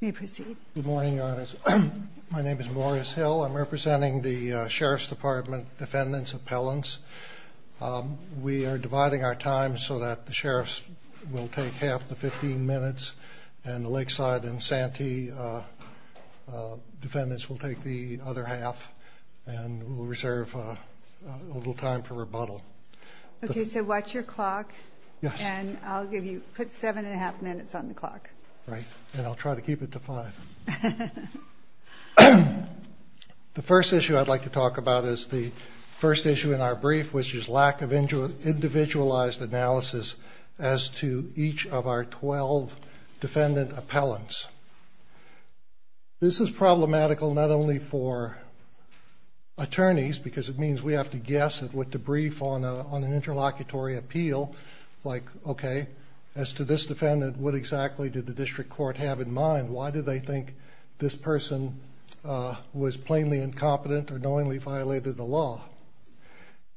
Good morning, Your Honors. My name is Morris Hill. I'm representing the Sheriff's Department Defendants Appellants. We are dividing our time so that the sheriffs will take half the 15 minutes and the Lakeside and Santee defendants will take the other half and we'll reserve a little time for rebuttal. Okay, so watch your clock and I'll give you, put seven and a half minutes on the clock. Right, and I'll try to keep it to five. The first issue I'd like to talk about is the first issue in our brief, which is lack of individualized analysis as to each of our 12 defendant appellants. This is problematical not only for attorneys, because it means we have to guess at what to brief on an interlocutory appeal, like okay, as to this defendant, what exactly did the district court have in mind? Why did they think this person was plainly incompetent or knowingly violated the law?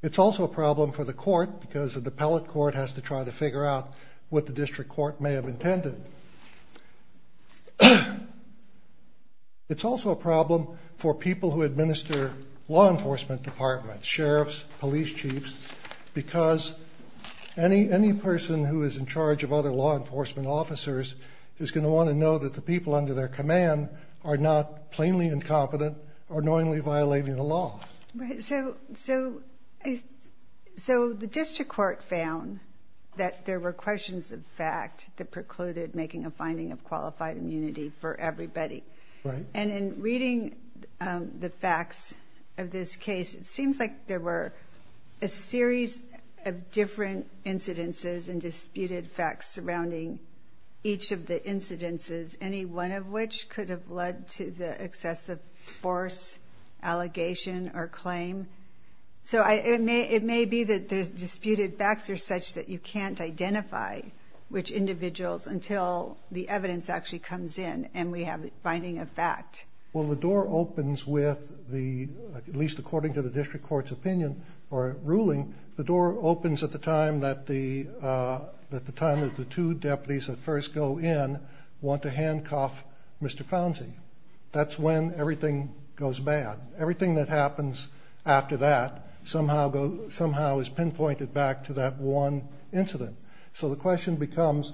It's also a problem for the court because the appellate court has to try to figure out what the district court may have intended. It's also a problem for people who Any person who is in charge of other law enforcement officers is going to want to know that the people under their command are not plainly incompetent or knowingly violating the law. Right, so the district court found that there were questions of fact that precluded making a finding of qualified immunity for everybody. And in reading the facts of this case, it and disputed facts surrounding each of the incidences, any one of which could have led to the excessive force, allegation, or claim. So it may be that the disputed facts are such that you can't identify which individuals until the evidence actually comes in and we have a finding of fact. Well, the door opens with the, at least according to the district court's opinion or ruling, the door opens at the time that the two deputies that first go in want to handcuff Mr. Founsey. That's when everything goes bad. Everything that happens after that somehow is pinpointed back to that one incident. So the question becomes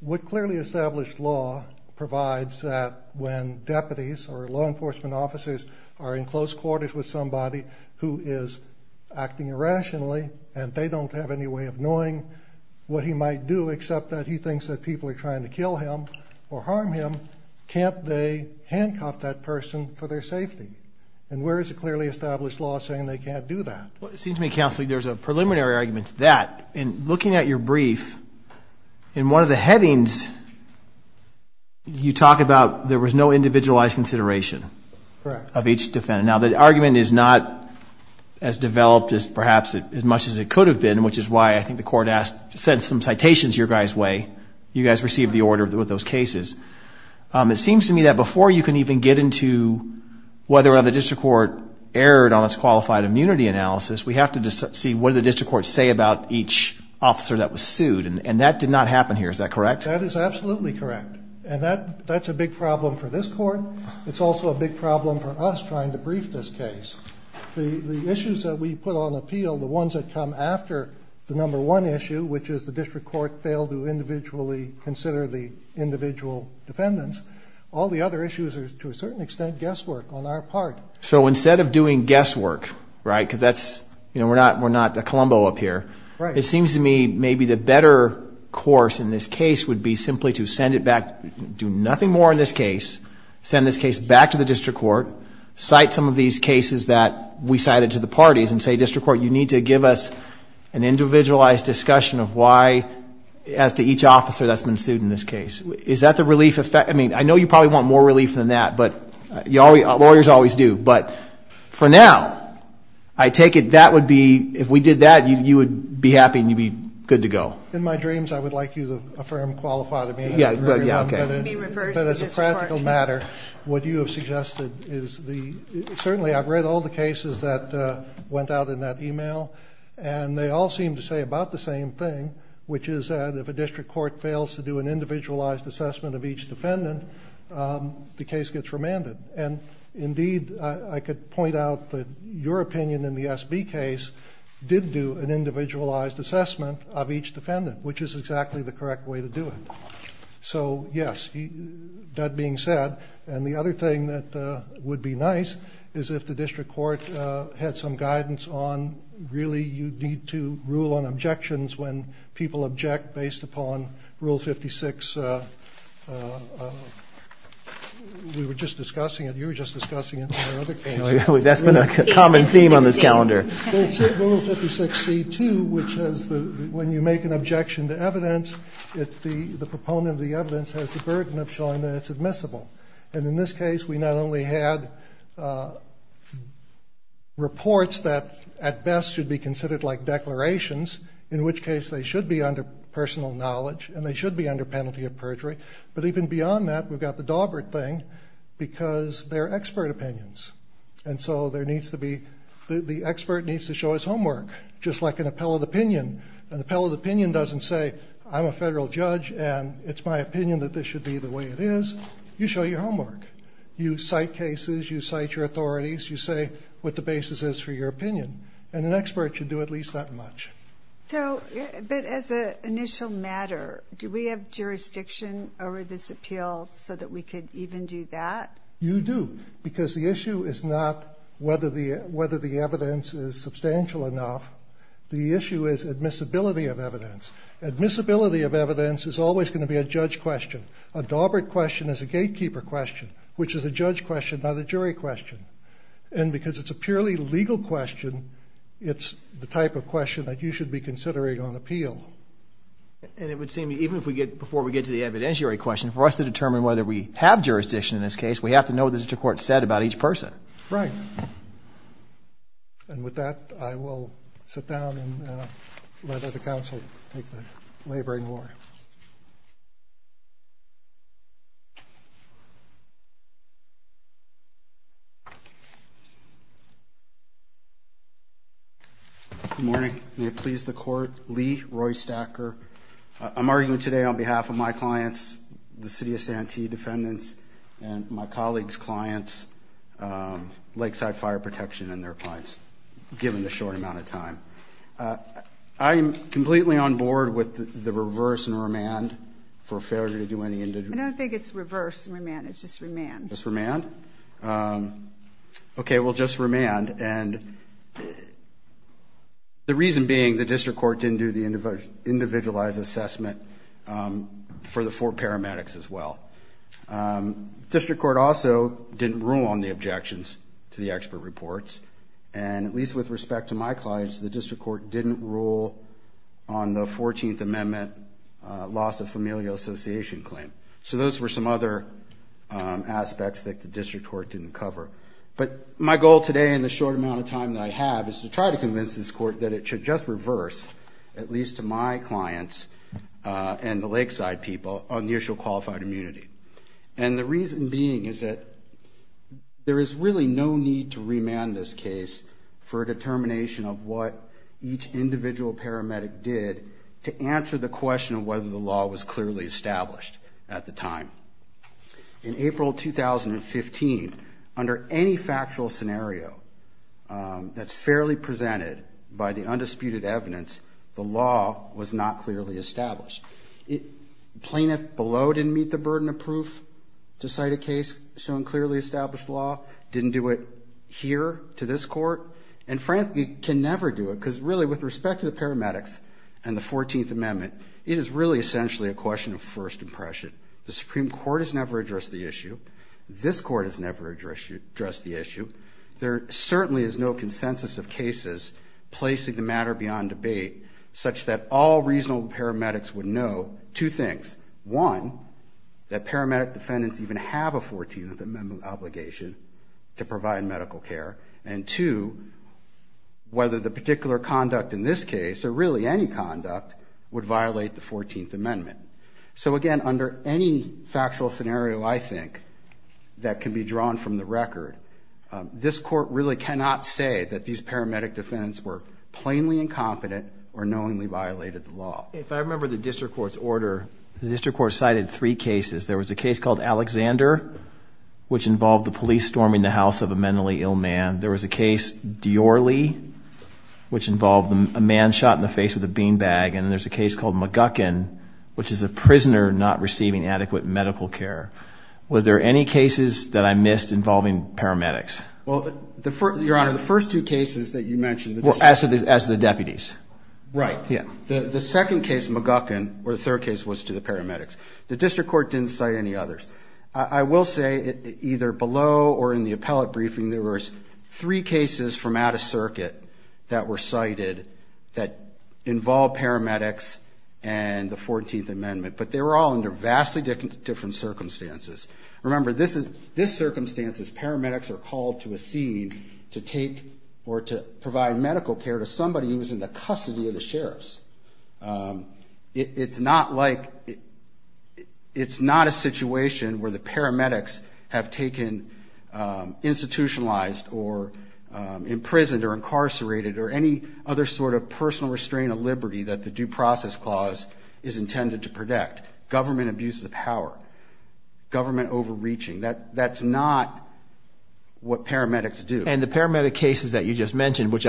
what clearly established law provides that when deputies or law enforcement officers are in close quarters with somebody who is acting irrationally and they don't have any way of knowing what he might do except that he thinks that people are trying to kill him or harm him, can't they handcuff that person for their safety? And where is it clearly established law saying they can't do that? Well, it seems to me, Counsel, there's a preliminary argument to that. In looking at your brief, in one of the headings you talk about there was no individualized consideration of each defendant. Now the argument is not as developed as perhaps as much as it could have been, which is why I think the court asked, sent some citations your guys way. You guys received the order with those cases. It seems to me that before you can even get into whether or not the district court erred on its qualified immunity analysis, we have to see what the district court say about each officer that was sued. And that did not happen here. Is that correct? That is absolutely correct. And that's a big problem for this court. It's also a big problem for us trying to brief this case. The issues that we put on appeal, the ones that come after the number one issue, which is the district court failed to individually consider the individual defendants, all the other issues are to a certain extent guesswork on our part. So instead of doing guesswork, right, because that's, you know, we're not a Colombo up here. Right. It seems to me maybe the better course in this case would be simply to send it back, do nothing more in this case, send this case back to the district court, cite some of these cases that we cited to the parties and say, district court, you need to give us an individualized discussion of why, as to each officer that's been sued in this case. Is that the relief effect? I mean, I know you probably want more relief than that, but lawyers always do. But for now, I take it that would be, if we did that, you would be happy and you'd be good to go. In my dreams, I would like you to affirm, qualify, but as a practical matter, what you have suggested is the, certainly I've read all the cases that went out in that email and they all seem to say about the same thing, which is that if a district court fails to do an individualized assessment of each defendant, the case gets remanded. And indeed, I could point out that your opinion in the SB case did do an individualized assessment of each defendant, which is exactly the correct way to do it. So yes, that being said, and the other thing that would be nice is if the district court had some guidance on, really, you need to rule on objections when people object based upon Rule 56. We were just discussing it, you were just discussing it in another case. That's been a common theme on this calendar. Rule 56C2, which is when you make an objection to evidence, the proponent of the evidence has the burden of showing that it's admissible. And in this case, we not only had reports that at best should be considered like declarations, in which case they should be under personal knowledge and they should be under penalty of perjury. But even beyond that, we've got the Daubert thing because they're expert opinions. And so the expert needs to show his homework, just like an appellate opinion. An appellate opinion doesn't say, I'm a federal judge and it's my opinion that this should be the way it is. You show your homework. You cite cases, you cite your authorities, you say what the basis is for your opinion. And an expert should do at least that much. So, but as an initial matter, do we have jurisdiction over this appeal so that we could even do that? You do. Because the issue is not whether the evidence is substantial enough. The issue is admissibility of evidence. Admissibility of evidence is always going to be a judge question. A Daubert question is a gatekeeper question, which is a judge question by the jury question. And because it's a purely legal question, it's the type of question that you should be considering on appeal. And it would seem even if we get, before we get to the evidentiary question, for us to determine whether we have jurisdiction in this case, we have to know what the district court said about each person. Right. And with that, I will sit down and let the counsel take the laboring order. Good morning. May it please the court. Lee Roystacker. I'm arguing today on behalf of my clients, the City of Santee defendants, and my colleagues' clients, Lakeside Fire Protection and their clients, given the short amount of time. I'm completely on board with the reverse and remand for failure to do any individual I don't think it's reverse and remand. It's just remand. Just remand? Okay. Well, just remand. And the reason being the district court didn't do the individualized assessment for the four paramedics as well. District court also didn't rule on the objections to the expert reports. And at least with respect to my clients, the district court didn't rule on the 14th Amendment loss of familial association claim. So those were some other aspects that the district court didn't cover. But my goal today in the short amount of time that I have is to try to convince this court that it should just reverse, at least to my clients and the Lakeside people, on the issue of qualified immunity. And the reason being is that there is really no need to remand this case for a determination of what each individual paramedic did to answer the question of whether the law was clearly established at the time. In April 2015, under any factual scenario that's fairly presented by the undisputed evidence, the law was not clearly established. Plaintiff below didn't meet the burden of proof to cite a case showing clearly established law, didn't do it here to this court, and frankly can never do it. Because really with respect to the paramedics and the 14th Amendment, it is really essentially a question of first impression. The Supreme Court has never addressed the issue. This court has never addressed the issue. There certainly is no consensus of cases placing the matter beyond debate such that all reasonable paramedics would know two things. One, that paramedic defendants even have a 14th Amendment obligation to provide medical care. And two, whether the particular conduct in this case, or really any conduct, would violate the 14th Amendment. So again, under any factual scenario I think that can be drawn from the record, this court really cannot say that these paramedic defendants were plainly incompetent or knowingly violated the law. If I remember the district court's order, the district court cited three cases. There was a case which involved the police storming the house of a mentally ill man. There was a case, Dior-Lee, which involved a man shot in the face with a bean bag. And there's a case called McGuckin, which is a prisoner not receiving adequate medical care. Were there any cases that I missed involving paramedics? Well, Your Honor, the first two cases that you mentioned... Well, as to the deputies. Right. The second case, McGuckin, or the third case was to the paramedics. The district court didn't cite any others. I will say, either below or in the appellate briefing, there was three cases from out of circuit that were cited that involved paramedics and the 14th Amendment. But they were all under vastly different circumstances. Remember, this circumstance is paramedics are called to a scene to take or to provide medical care to somebody who is not a situation where the paramedics have taken institutionalized or imprisoned or incarcerated or any other sort of personal restraint of liberty that the Due Process Clause is intended to protect. Government abuse of power. Government overreaching. That's not what paramedics do. And the paramedic cases that you just mentioned, which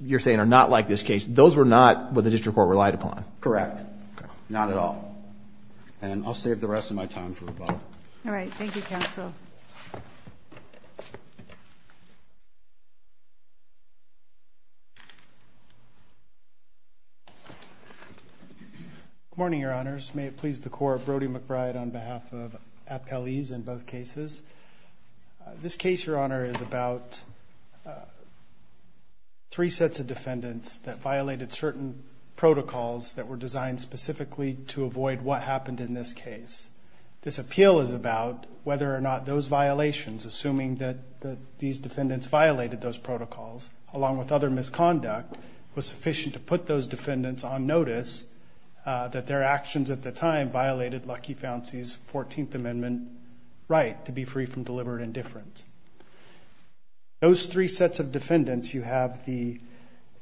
you're saying are not like this case, those were not what the district court relied upon. Correct. Not at all. And I'll save the rest of my time for Rebecca. All right. Thank you, counsel. Good morning, Your Honors. May it please the Court, Brody McBride on behalf of appellees in both cases. This case, Your Honor, is about three sets of defendants that violated certain protocols that were designed specifically to avoid what happened in this case. This appeal is about whether or not those violations, assuming that these defendants violated those protocols, along with other misconduct, was sufficient to put those defendants on notice that their actions at the time violated Lucky Fancy's 14th Amendment right to be free from deliberate indifference. Those three sets of defendants, you have the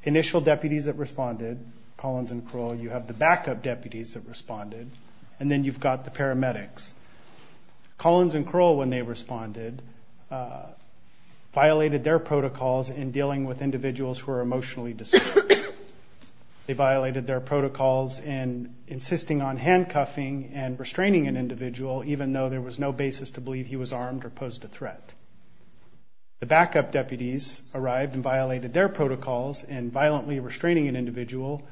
initial deputies that responded, Collins and Kroll, you have the backup deputies that responded, and then you've got the paramedics. Collins and Kroll, when they responded, violated their protocols in dealing with individuals who are emotionally disturbed. They violated their protocols in insisting on handcuffing and restraining an individual, even though there was no basis to believe he was armed or posed a threat. The backup deputies arrived and violated their protocols in violently restraining an individual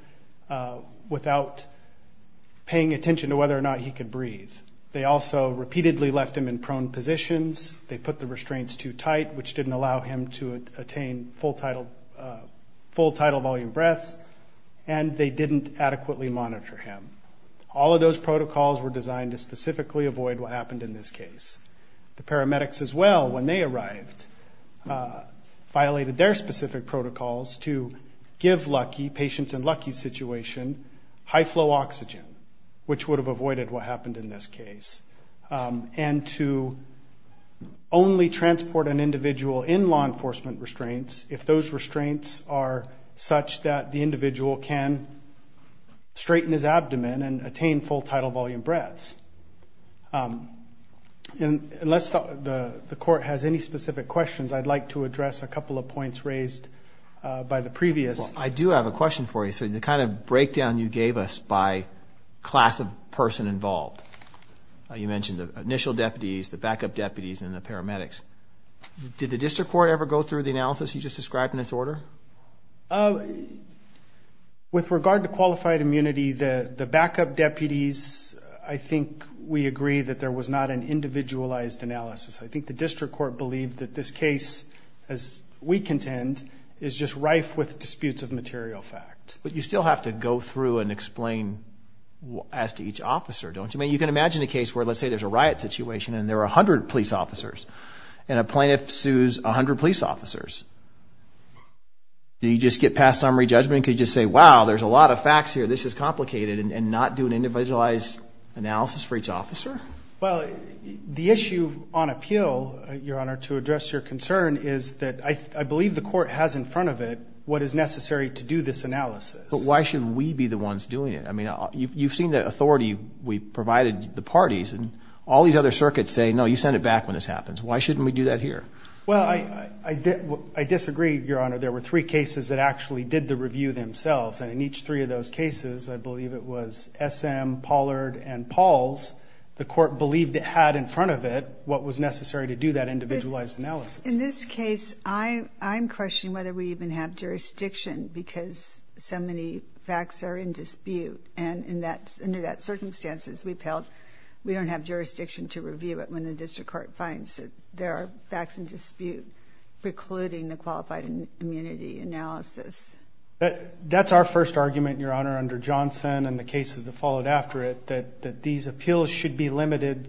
without paying attention to whether or not he could breathe. They also repeatedly left him in prone positions. They put the restraints too tight, which didn't allow him to attain full tidal volume breaths, and they didn't adequately monitor him. All of those protocols were designed to specifically avoid what happened in this case. The paramedics as well, when they arrived, violated their specific protocols to give Lucky, patients in Lucky's situation, high flow oxygen, which would have avoided what happened in this case, and to only transport an individual in law enforcement restraints if those restraints are such that the individual can straighten his abdomen and attain full tidal volume breaths. And unless the court has any specific questions, I'd like to address a couple of points raised by the previous. I do have a question for you. So the kind of breakdown you gave us by class of person involved, you mentioned the initial deputies, the backup deputies and the paramedics. Did the district court ever go through the analysis you just described in its order? With regard to qualified immunity, the backup deputies, I think we agree that there was not an individualized analysis. I think the district court believed that this case, as we contend, is just rife with disputes of material fact. But you still have to go through and explain as to each officer, don't you? I mean, you can imagine a case where, let's say there's a riot situation and there are 100 police officers and a plaintiff sues 100 police officers. Do you just get past summary judgment? Could you just say, wow, there's a lot of facts here, this is complicated, and not do an individualized analysis for each officer? Well, the issue on appeal, Your Honor, to address your concern is that I believe the court has in front of it what is necessary to do this analysis. But why shouldn't we be the ones doing it? I mean, you've seen the authority we provided the parties and all these other circuits say, no, you send it back when this happens. Why shouldn't we do that here? Well, I disagree, Your Honor. There were three cases that actually did the review themselves. And in each three of those cases, I believe it was SM, Pollard and Pauls. The court believed it had in front of it what was necessary to do that individualized analysis. In this case, I'm questioning whether we even have jurisdiction because so many facts are in dispute. And in that, under that circumstances we've held, we don't have jurisdiction to review it when the district court finds that there are facts in dispute, precluding the qualified immunity analysis. That's our first argument, Your Honor, under Johnson and the cases that followed after it, that these appeals should be limited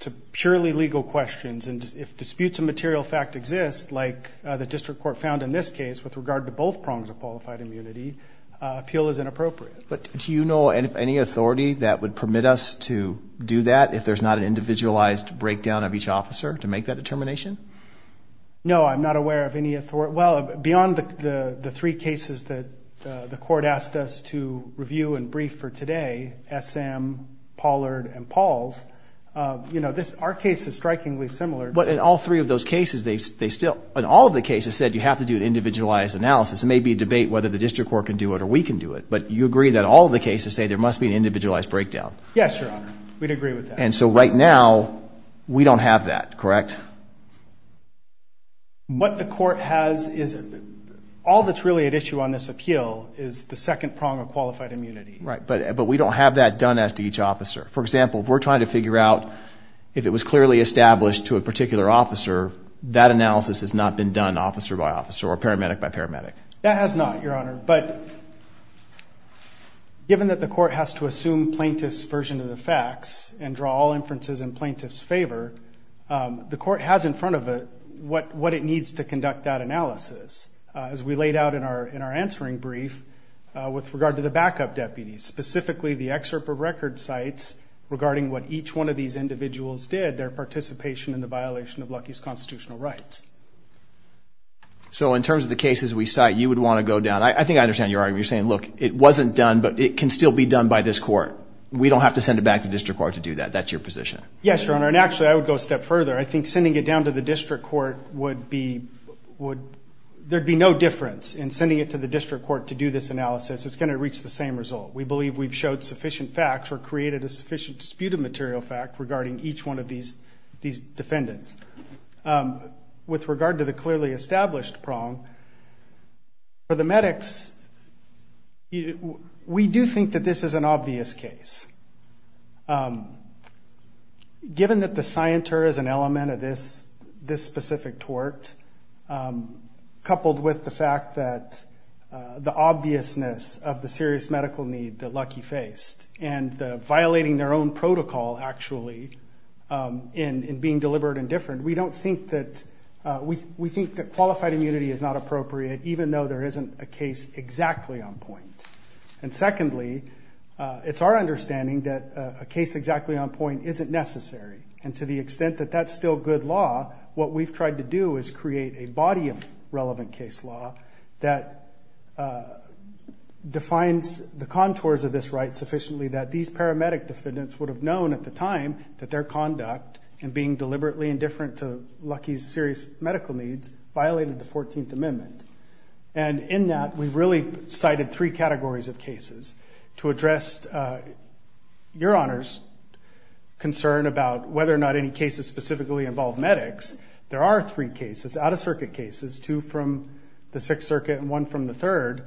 to purely legal questions. And if disputes of material fact exist, like the district court found in this case with regard to both prongs of qualified immunity, appeal is inappropriate. But do you know of any authority that would permit us to do that if there's not an individualized breakdown of each officer to make that determination? No, I'm not aware of any authority. Well, beyond the three cases that the court asked us to review and brief for today, SM, Pollard and Pauls, you know, this, our case is strikingly similar. But in all three of those cases, they still, in all of the cases said you have to do an individualized analysis. It may be a debate whether the district court can do it or we can do it. But you agree that all of the cases say there must be an individualized breakdown? Yes, Your Honor, we'd agree with that. And so right now we don't have that, correct? What the court has is, all that's really at issue on this appeal is the second prong of qualified immunity. Right, but, but we don't have that done as to each officer. For example, if we're trying to figure out if it was clearly established to a particular officer, that analysis has not been done officer by officer or paramedic by paramedic. That has not, Your Honor. But given that the court has to assume plaintiff's version of the facts and draw all The court has in front of it what, what it needs to conduct that analysis as we laid out in our, in our answering brief with regard to the backup deputies, specifically the excerpt of record sites regarding what each one of these individuals did, their participation in the violation of Lucky's constitutional rights. So in terms of the cases we cite, you would want to go down. I think I understand your argument. You're saying, look, it wasn't done, but it can still be done by this court. We don't have to send it back to district court to do that. That's your position. Yes, Your Honor. And actually I would go a step further. I think sending it down to the district court would be, would, there'd be no difference in sending it to the district court to do this analysis. It's going to reach the same result. We believe we've showed sufficient facts or created a sufficient disputed material fact regarding each one of these, these defendants. With regard to the clearly established prong, for the medics, we do think that this is an element of this, this specific tort, coupled with the fact that the obviousness of the serious medical need that Lucky faced and the violating their own protocol actually, in being deliberate and different, we don't think that, we think that qualified immunity is not appropriate, even though there isn't a case exactly on point. And secondly, it's our understanding that a case exactly on point isn't necessary. And to the extent that that's still good law, what we've tried to do is create a body of relevant case law that defines the contours of this right sufficiently that these paramedic defendants would have known at the time that their conduct and being deliberately indifferent to Lucky's serious medical needs violated the 14th Amendment. And in that, we really cited three categories of cases to address Your Honor's concern about whether or not any cases specifically involve medics. There are three cases, out-of-circuit cases, two from the Sixth Circuit and one from the third,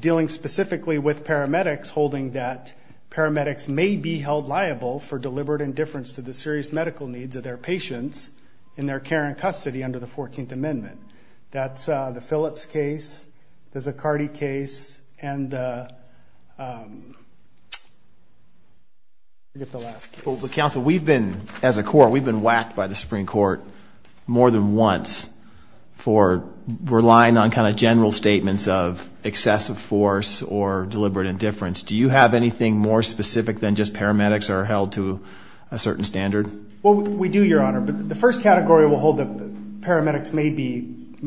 dealing specifically with paramedics, holding that paramedics may be held liable for deliberate indifference to the serious medical needs of their patients in their care and custody under the 14th Amendment. That's the Phillips case, the Zaccardi case, and I forget the last case. Counsel, we've been, as a court, we've been whacked by the Supreme Court more than once for relying on kind of general statements of excessive force or deliberate indifference. Do you have anything more specific than just paramedics are held to a certain standard? Well, we do, Your Honor, but the first category will hold that paramedics may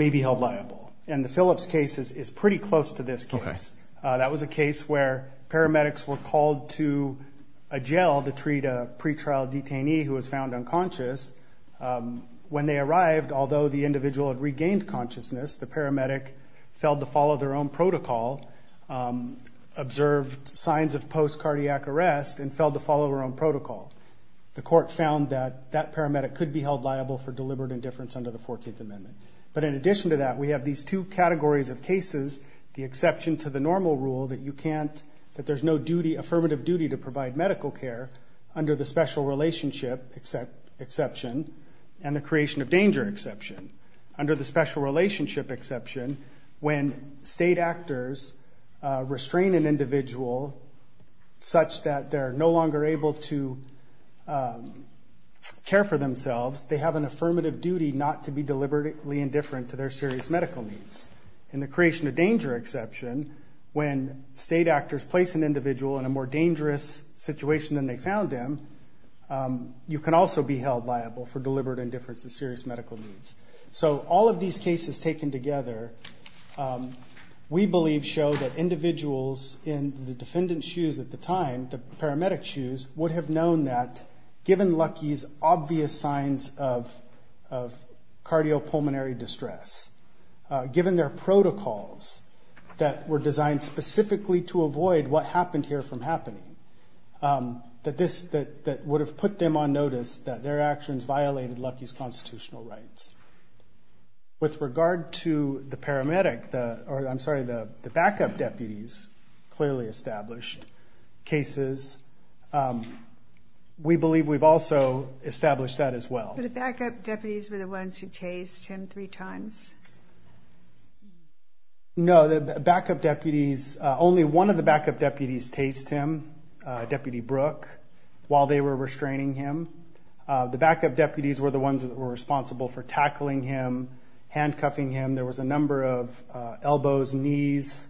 be held liable. And the Phillips case is pretty close to this case. That was a case where paramedics were called to a jail to treat a pretrial detainee who was found unconscious. When they arrived, although the individual had regained consciousness, the paramedic failed to follow their own protocol, observed signs of post-cardiac arrest, and failed to follow her own protocol. The court found that that paramedic could be held liable for deliberate indifference under the 14th Amendment. But in addition to that, we have these two categories of cases, the exception to the normal rule that you can't, that there's no duty, affirmative duty to provide medical care under the special relationship exception, and the creation of danger exception. Under the special relationship exception, when state actors restrain an individual such that they're no longer able to care for themselves, they have an affirmative duty not to be deliberately indifferent to their serious medical needs. In the creation of danger exception, when state actors place an individual in a more dangerous situation than they found them, you can also be held liable for deliberate indifference to serious medical needs. So all of these cases taken together, we believe show that individuals in the defendant's shoes at the time, the paramedic's shoes, would have known that given Lucky's obvious signs of cardiopulmonary distress, given their protocols that were designed specifically to avoid what happened here from happening, that this, that would have put them on notice that their actions violated Lucky's constitutional rights. With regard to the paramedic, or I'm sorry, the backup deputies, clearly established cases, we believe we've also established that as well. But the backup deputies were the ones who chased him three times? No, the backup deputies, only one of the backup deputies chased him, Deputy Brooke, while they were restraining him. The backup deputies were the ones that were responsible for tackling him, handcuffing him. There was a number of elbows, knees,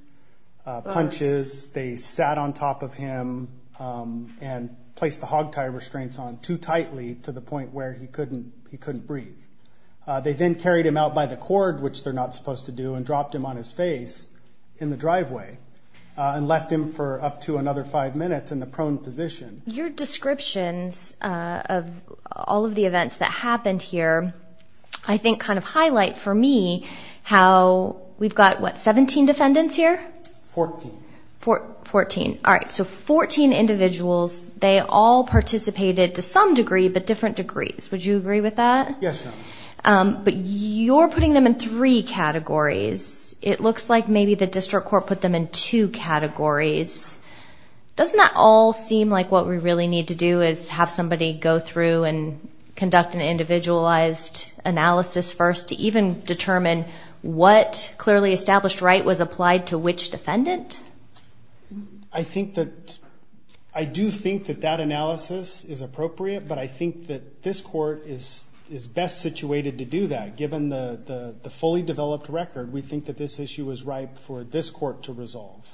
punches. They sat on top of him and placed the hogtie restraints on too tightly to the point where he couldn't, he couldn't breathe. They then carried him out by the cord, which they're not supposed to do, and dropped him on his face in the driveway, and left him for up to another five minutes in the prone position. Your descriptions of all of the events that happened here, I think kind of highlight for me how we've got, what, 17 defendants here? Fourteen. Fourteen. All right, so fourteen individuals, they all participated to some degree, but different degrees. Would you agree with that? Yes, ma'am. But you're putting them in three categories. It looks like maybe the district court put them in two categories. Doesn't that all seem like what we really need to do is have somebody go through and conduct an individualized analysis first to even determine what clearly established right was applied to which defendant? I think that, I do think that that analysis is appropriate, but I think that this court is best situated to do that, given the fully developed record. We think that this issue was ripe for this court to resolve.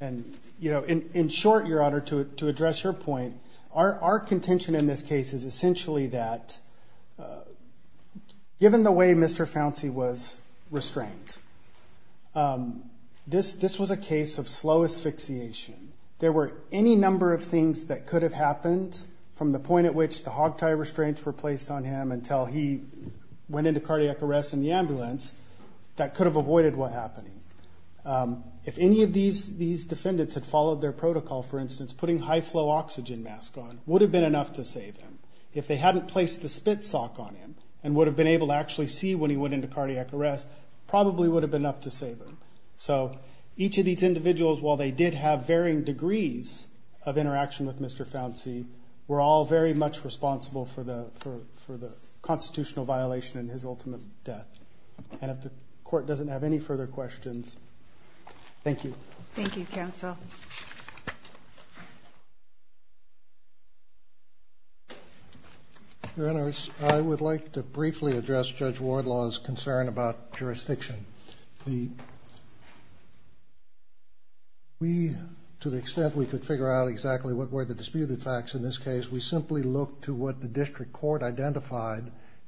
And, you know, in short, Your Honor, to address your point, our contention in this case is essentially that, given the way Mr. Founcey was restrained, this was a case of slow asphyxiation. There were any number of things that could have happened from the point at which the hogtie restraints were placed on him until he went into cardiac arrest in the ambulance that could have avoided what happened. If any of these defendants had followed their protocol, for instance, putting high flow oxygen mask on would have been enough to save him. If they hadn't placed the spit sock on him and would have been able to actually see when he went into cardiac arrest, probably would have been enough to save him. So each of these individuals, while they did have varying degrees of interaction with Mr. Founcey, were all very much responsible for the constitutional violation in his ultimate death. And if the court doesn't have any further questions, thank you. Thank you, counsel. Your Honors, I would like to briefly address Judge Wardlaw's concern about jurisdiction. We, to the extent we could figure out exactly what were the disputed facts in this case, we simply look to what the district court identified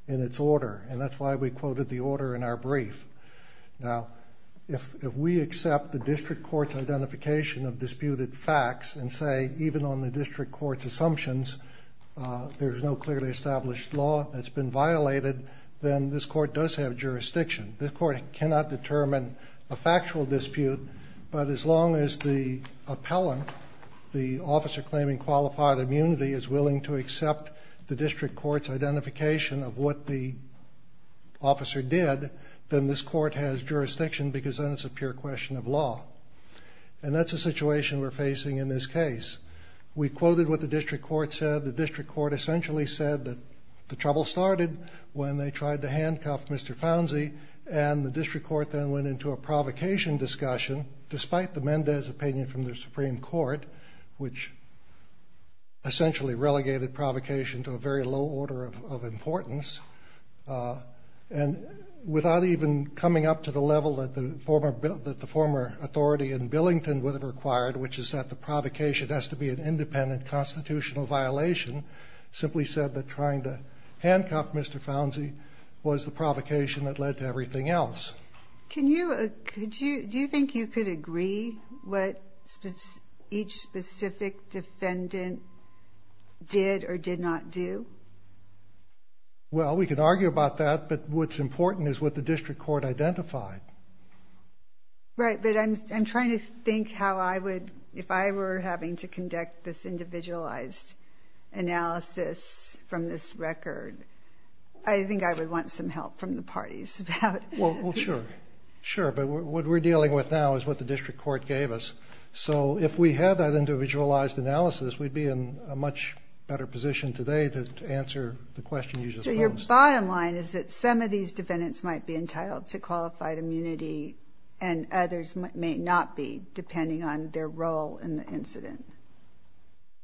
in its order. And that's why we quoted the order in our brief. Now, if we accept the district court's identification of disputed facts and say, even on the district court's assumptions, there's no clearly established law that's been violated, then this court does have jurisdiction. This court cannot determine a factual dispute, but as long as the appellant, the officer claiming qualified immunity, is willing to accept the district court's identification of what the officer did, then this court has jurisdiction because then it's a pure question of law. And that's a situation we're facing in this case. We quoted what the district court said. The district court essentially said that the trouble started when they tried to handcuff Mr. Founsey, and the district court then went into a provocation discussion, despite the Mendez opinion from the Supreme Court, which essentially relegated provocation to a very low order of importance. And without even coming up to the level that the former authority in Billington would have required, which is that the provocation has to be an independent constitutional violation, simply said that trying to handcuff Mr. Founsey was the provocation that led to everything else. Can you, could you, do you think you could agree what each specific defendant did or did not do? Well, we could argue about that, but what's important is what the district court identified. Right, but I'm trying to think how I would, if I were having to conduct this individualized analysis from this record, I think I would want some help from the parties about. Well, sure, sure. But what we're dealing with now is what the district court gave us. So if we had that individualized analysis, we'd be in a much better position today to answer the question you just posed. So your bottom line is that some of these defendants might be entitled to qualified immunity and others may not be, depending on their role in the incident.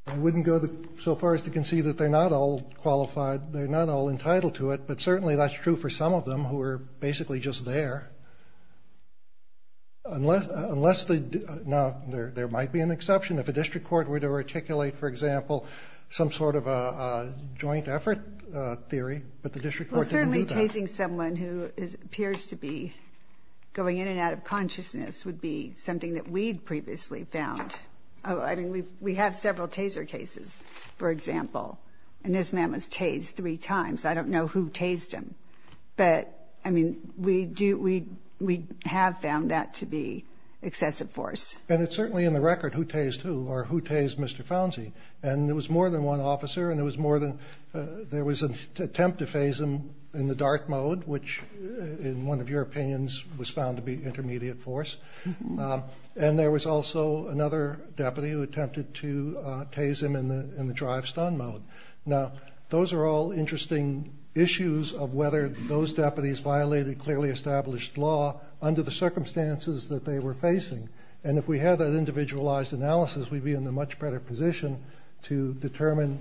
I wouldn't go so far as to concede that they're not all qualified, they're not all entitled to it, but certainly that's true for some of them who are basically just there. Unless they, now, there might be an exception. If a district court were to articulate, for example, some sort of a joint effort theory, but the district court didn't do that. Tasing someone who appears to be going in and out of consciousness would be something that we'd previously found. I mean, we have several taser cases, for example, and this man was tased three times. I don't know who tased him, but, I mean, we do, we have found that to be excessive force. And it's certainly in the record who tased who or who tased Mr. Founsie. And it was more than one officer and it was more than, there was an attempt to tase him in the dark mode, which in one of your opinions was found to be intermediate force. And there was also another deputy who attempted to tase him in the drive stun mode. Now, those are all interesting issues of whether those deputies violated clearly established law under the circumstances that they were facing. And if we had that individualized analysis, we'd be in a much better position to determine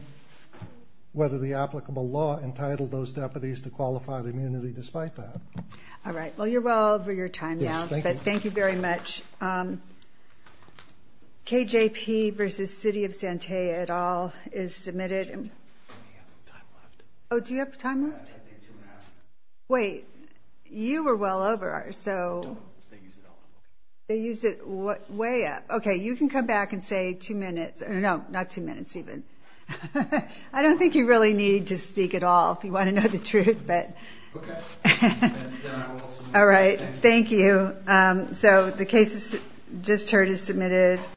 whether the applicable law entitled those deputies to qualify the immunity despite that. All right. Well, you're well over your time now, but thank you very much. KJP versus City of Santea et al is submitted. Oh, do you have time left? Wait, you were well over, so they use it way up. Okay. You can come back and say two minutes or no, not two minutes, even. I don't think you really need to speak at all if you want to know the truth, but. All right. Thank you. So the case just heard is submitted.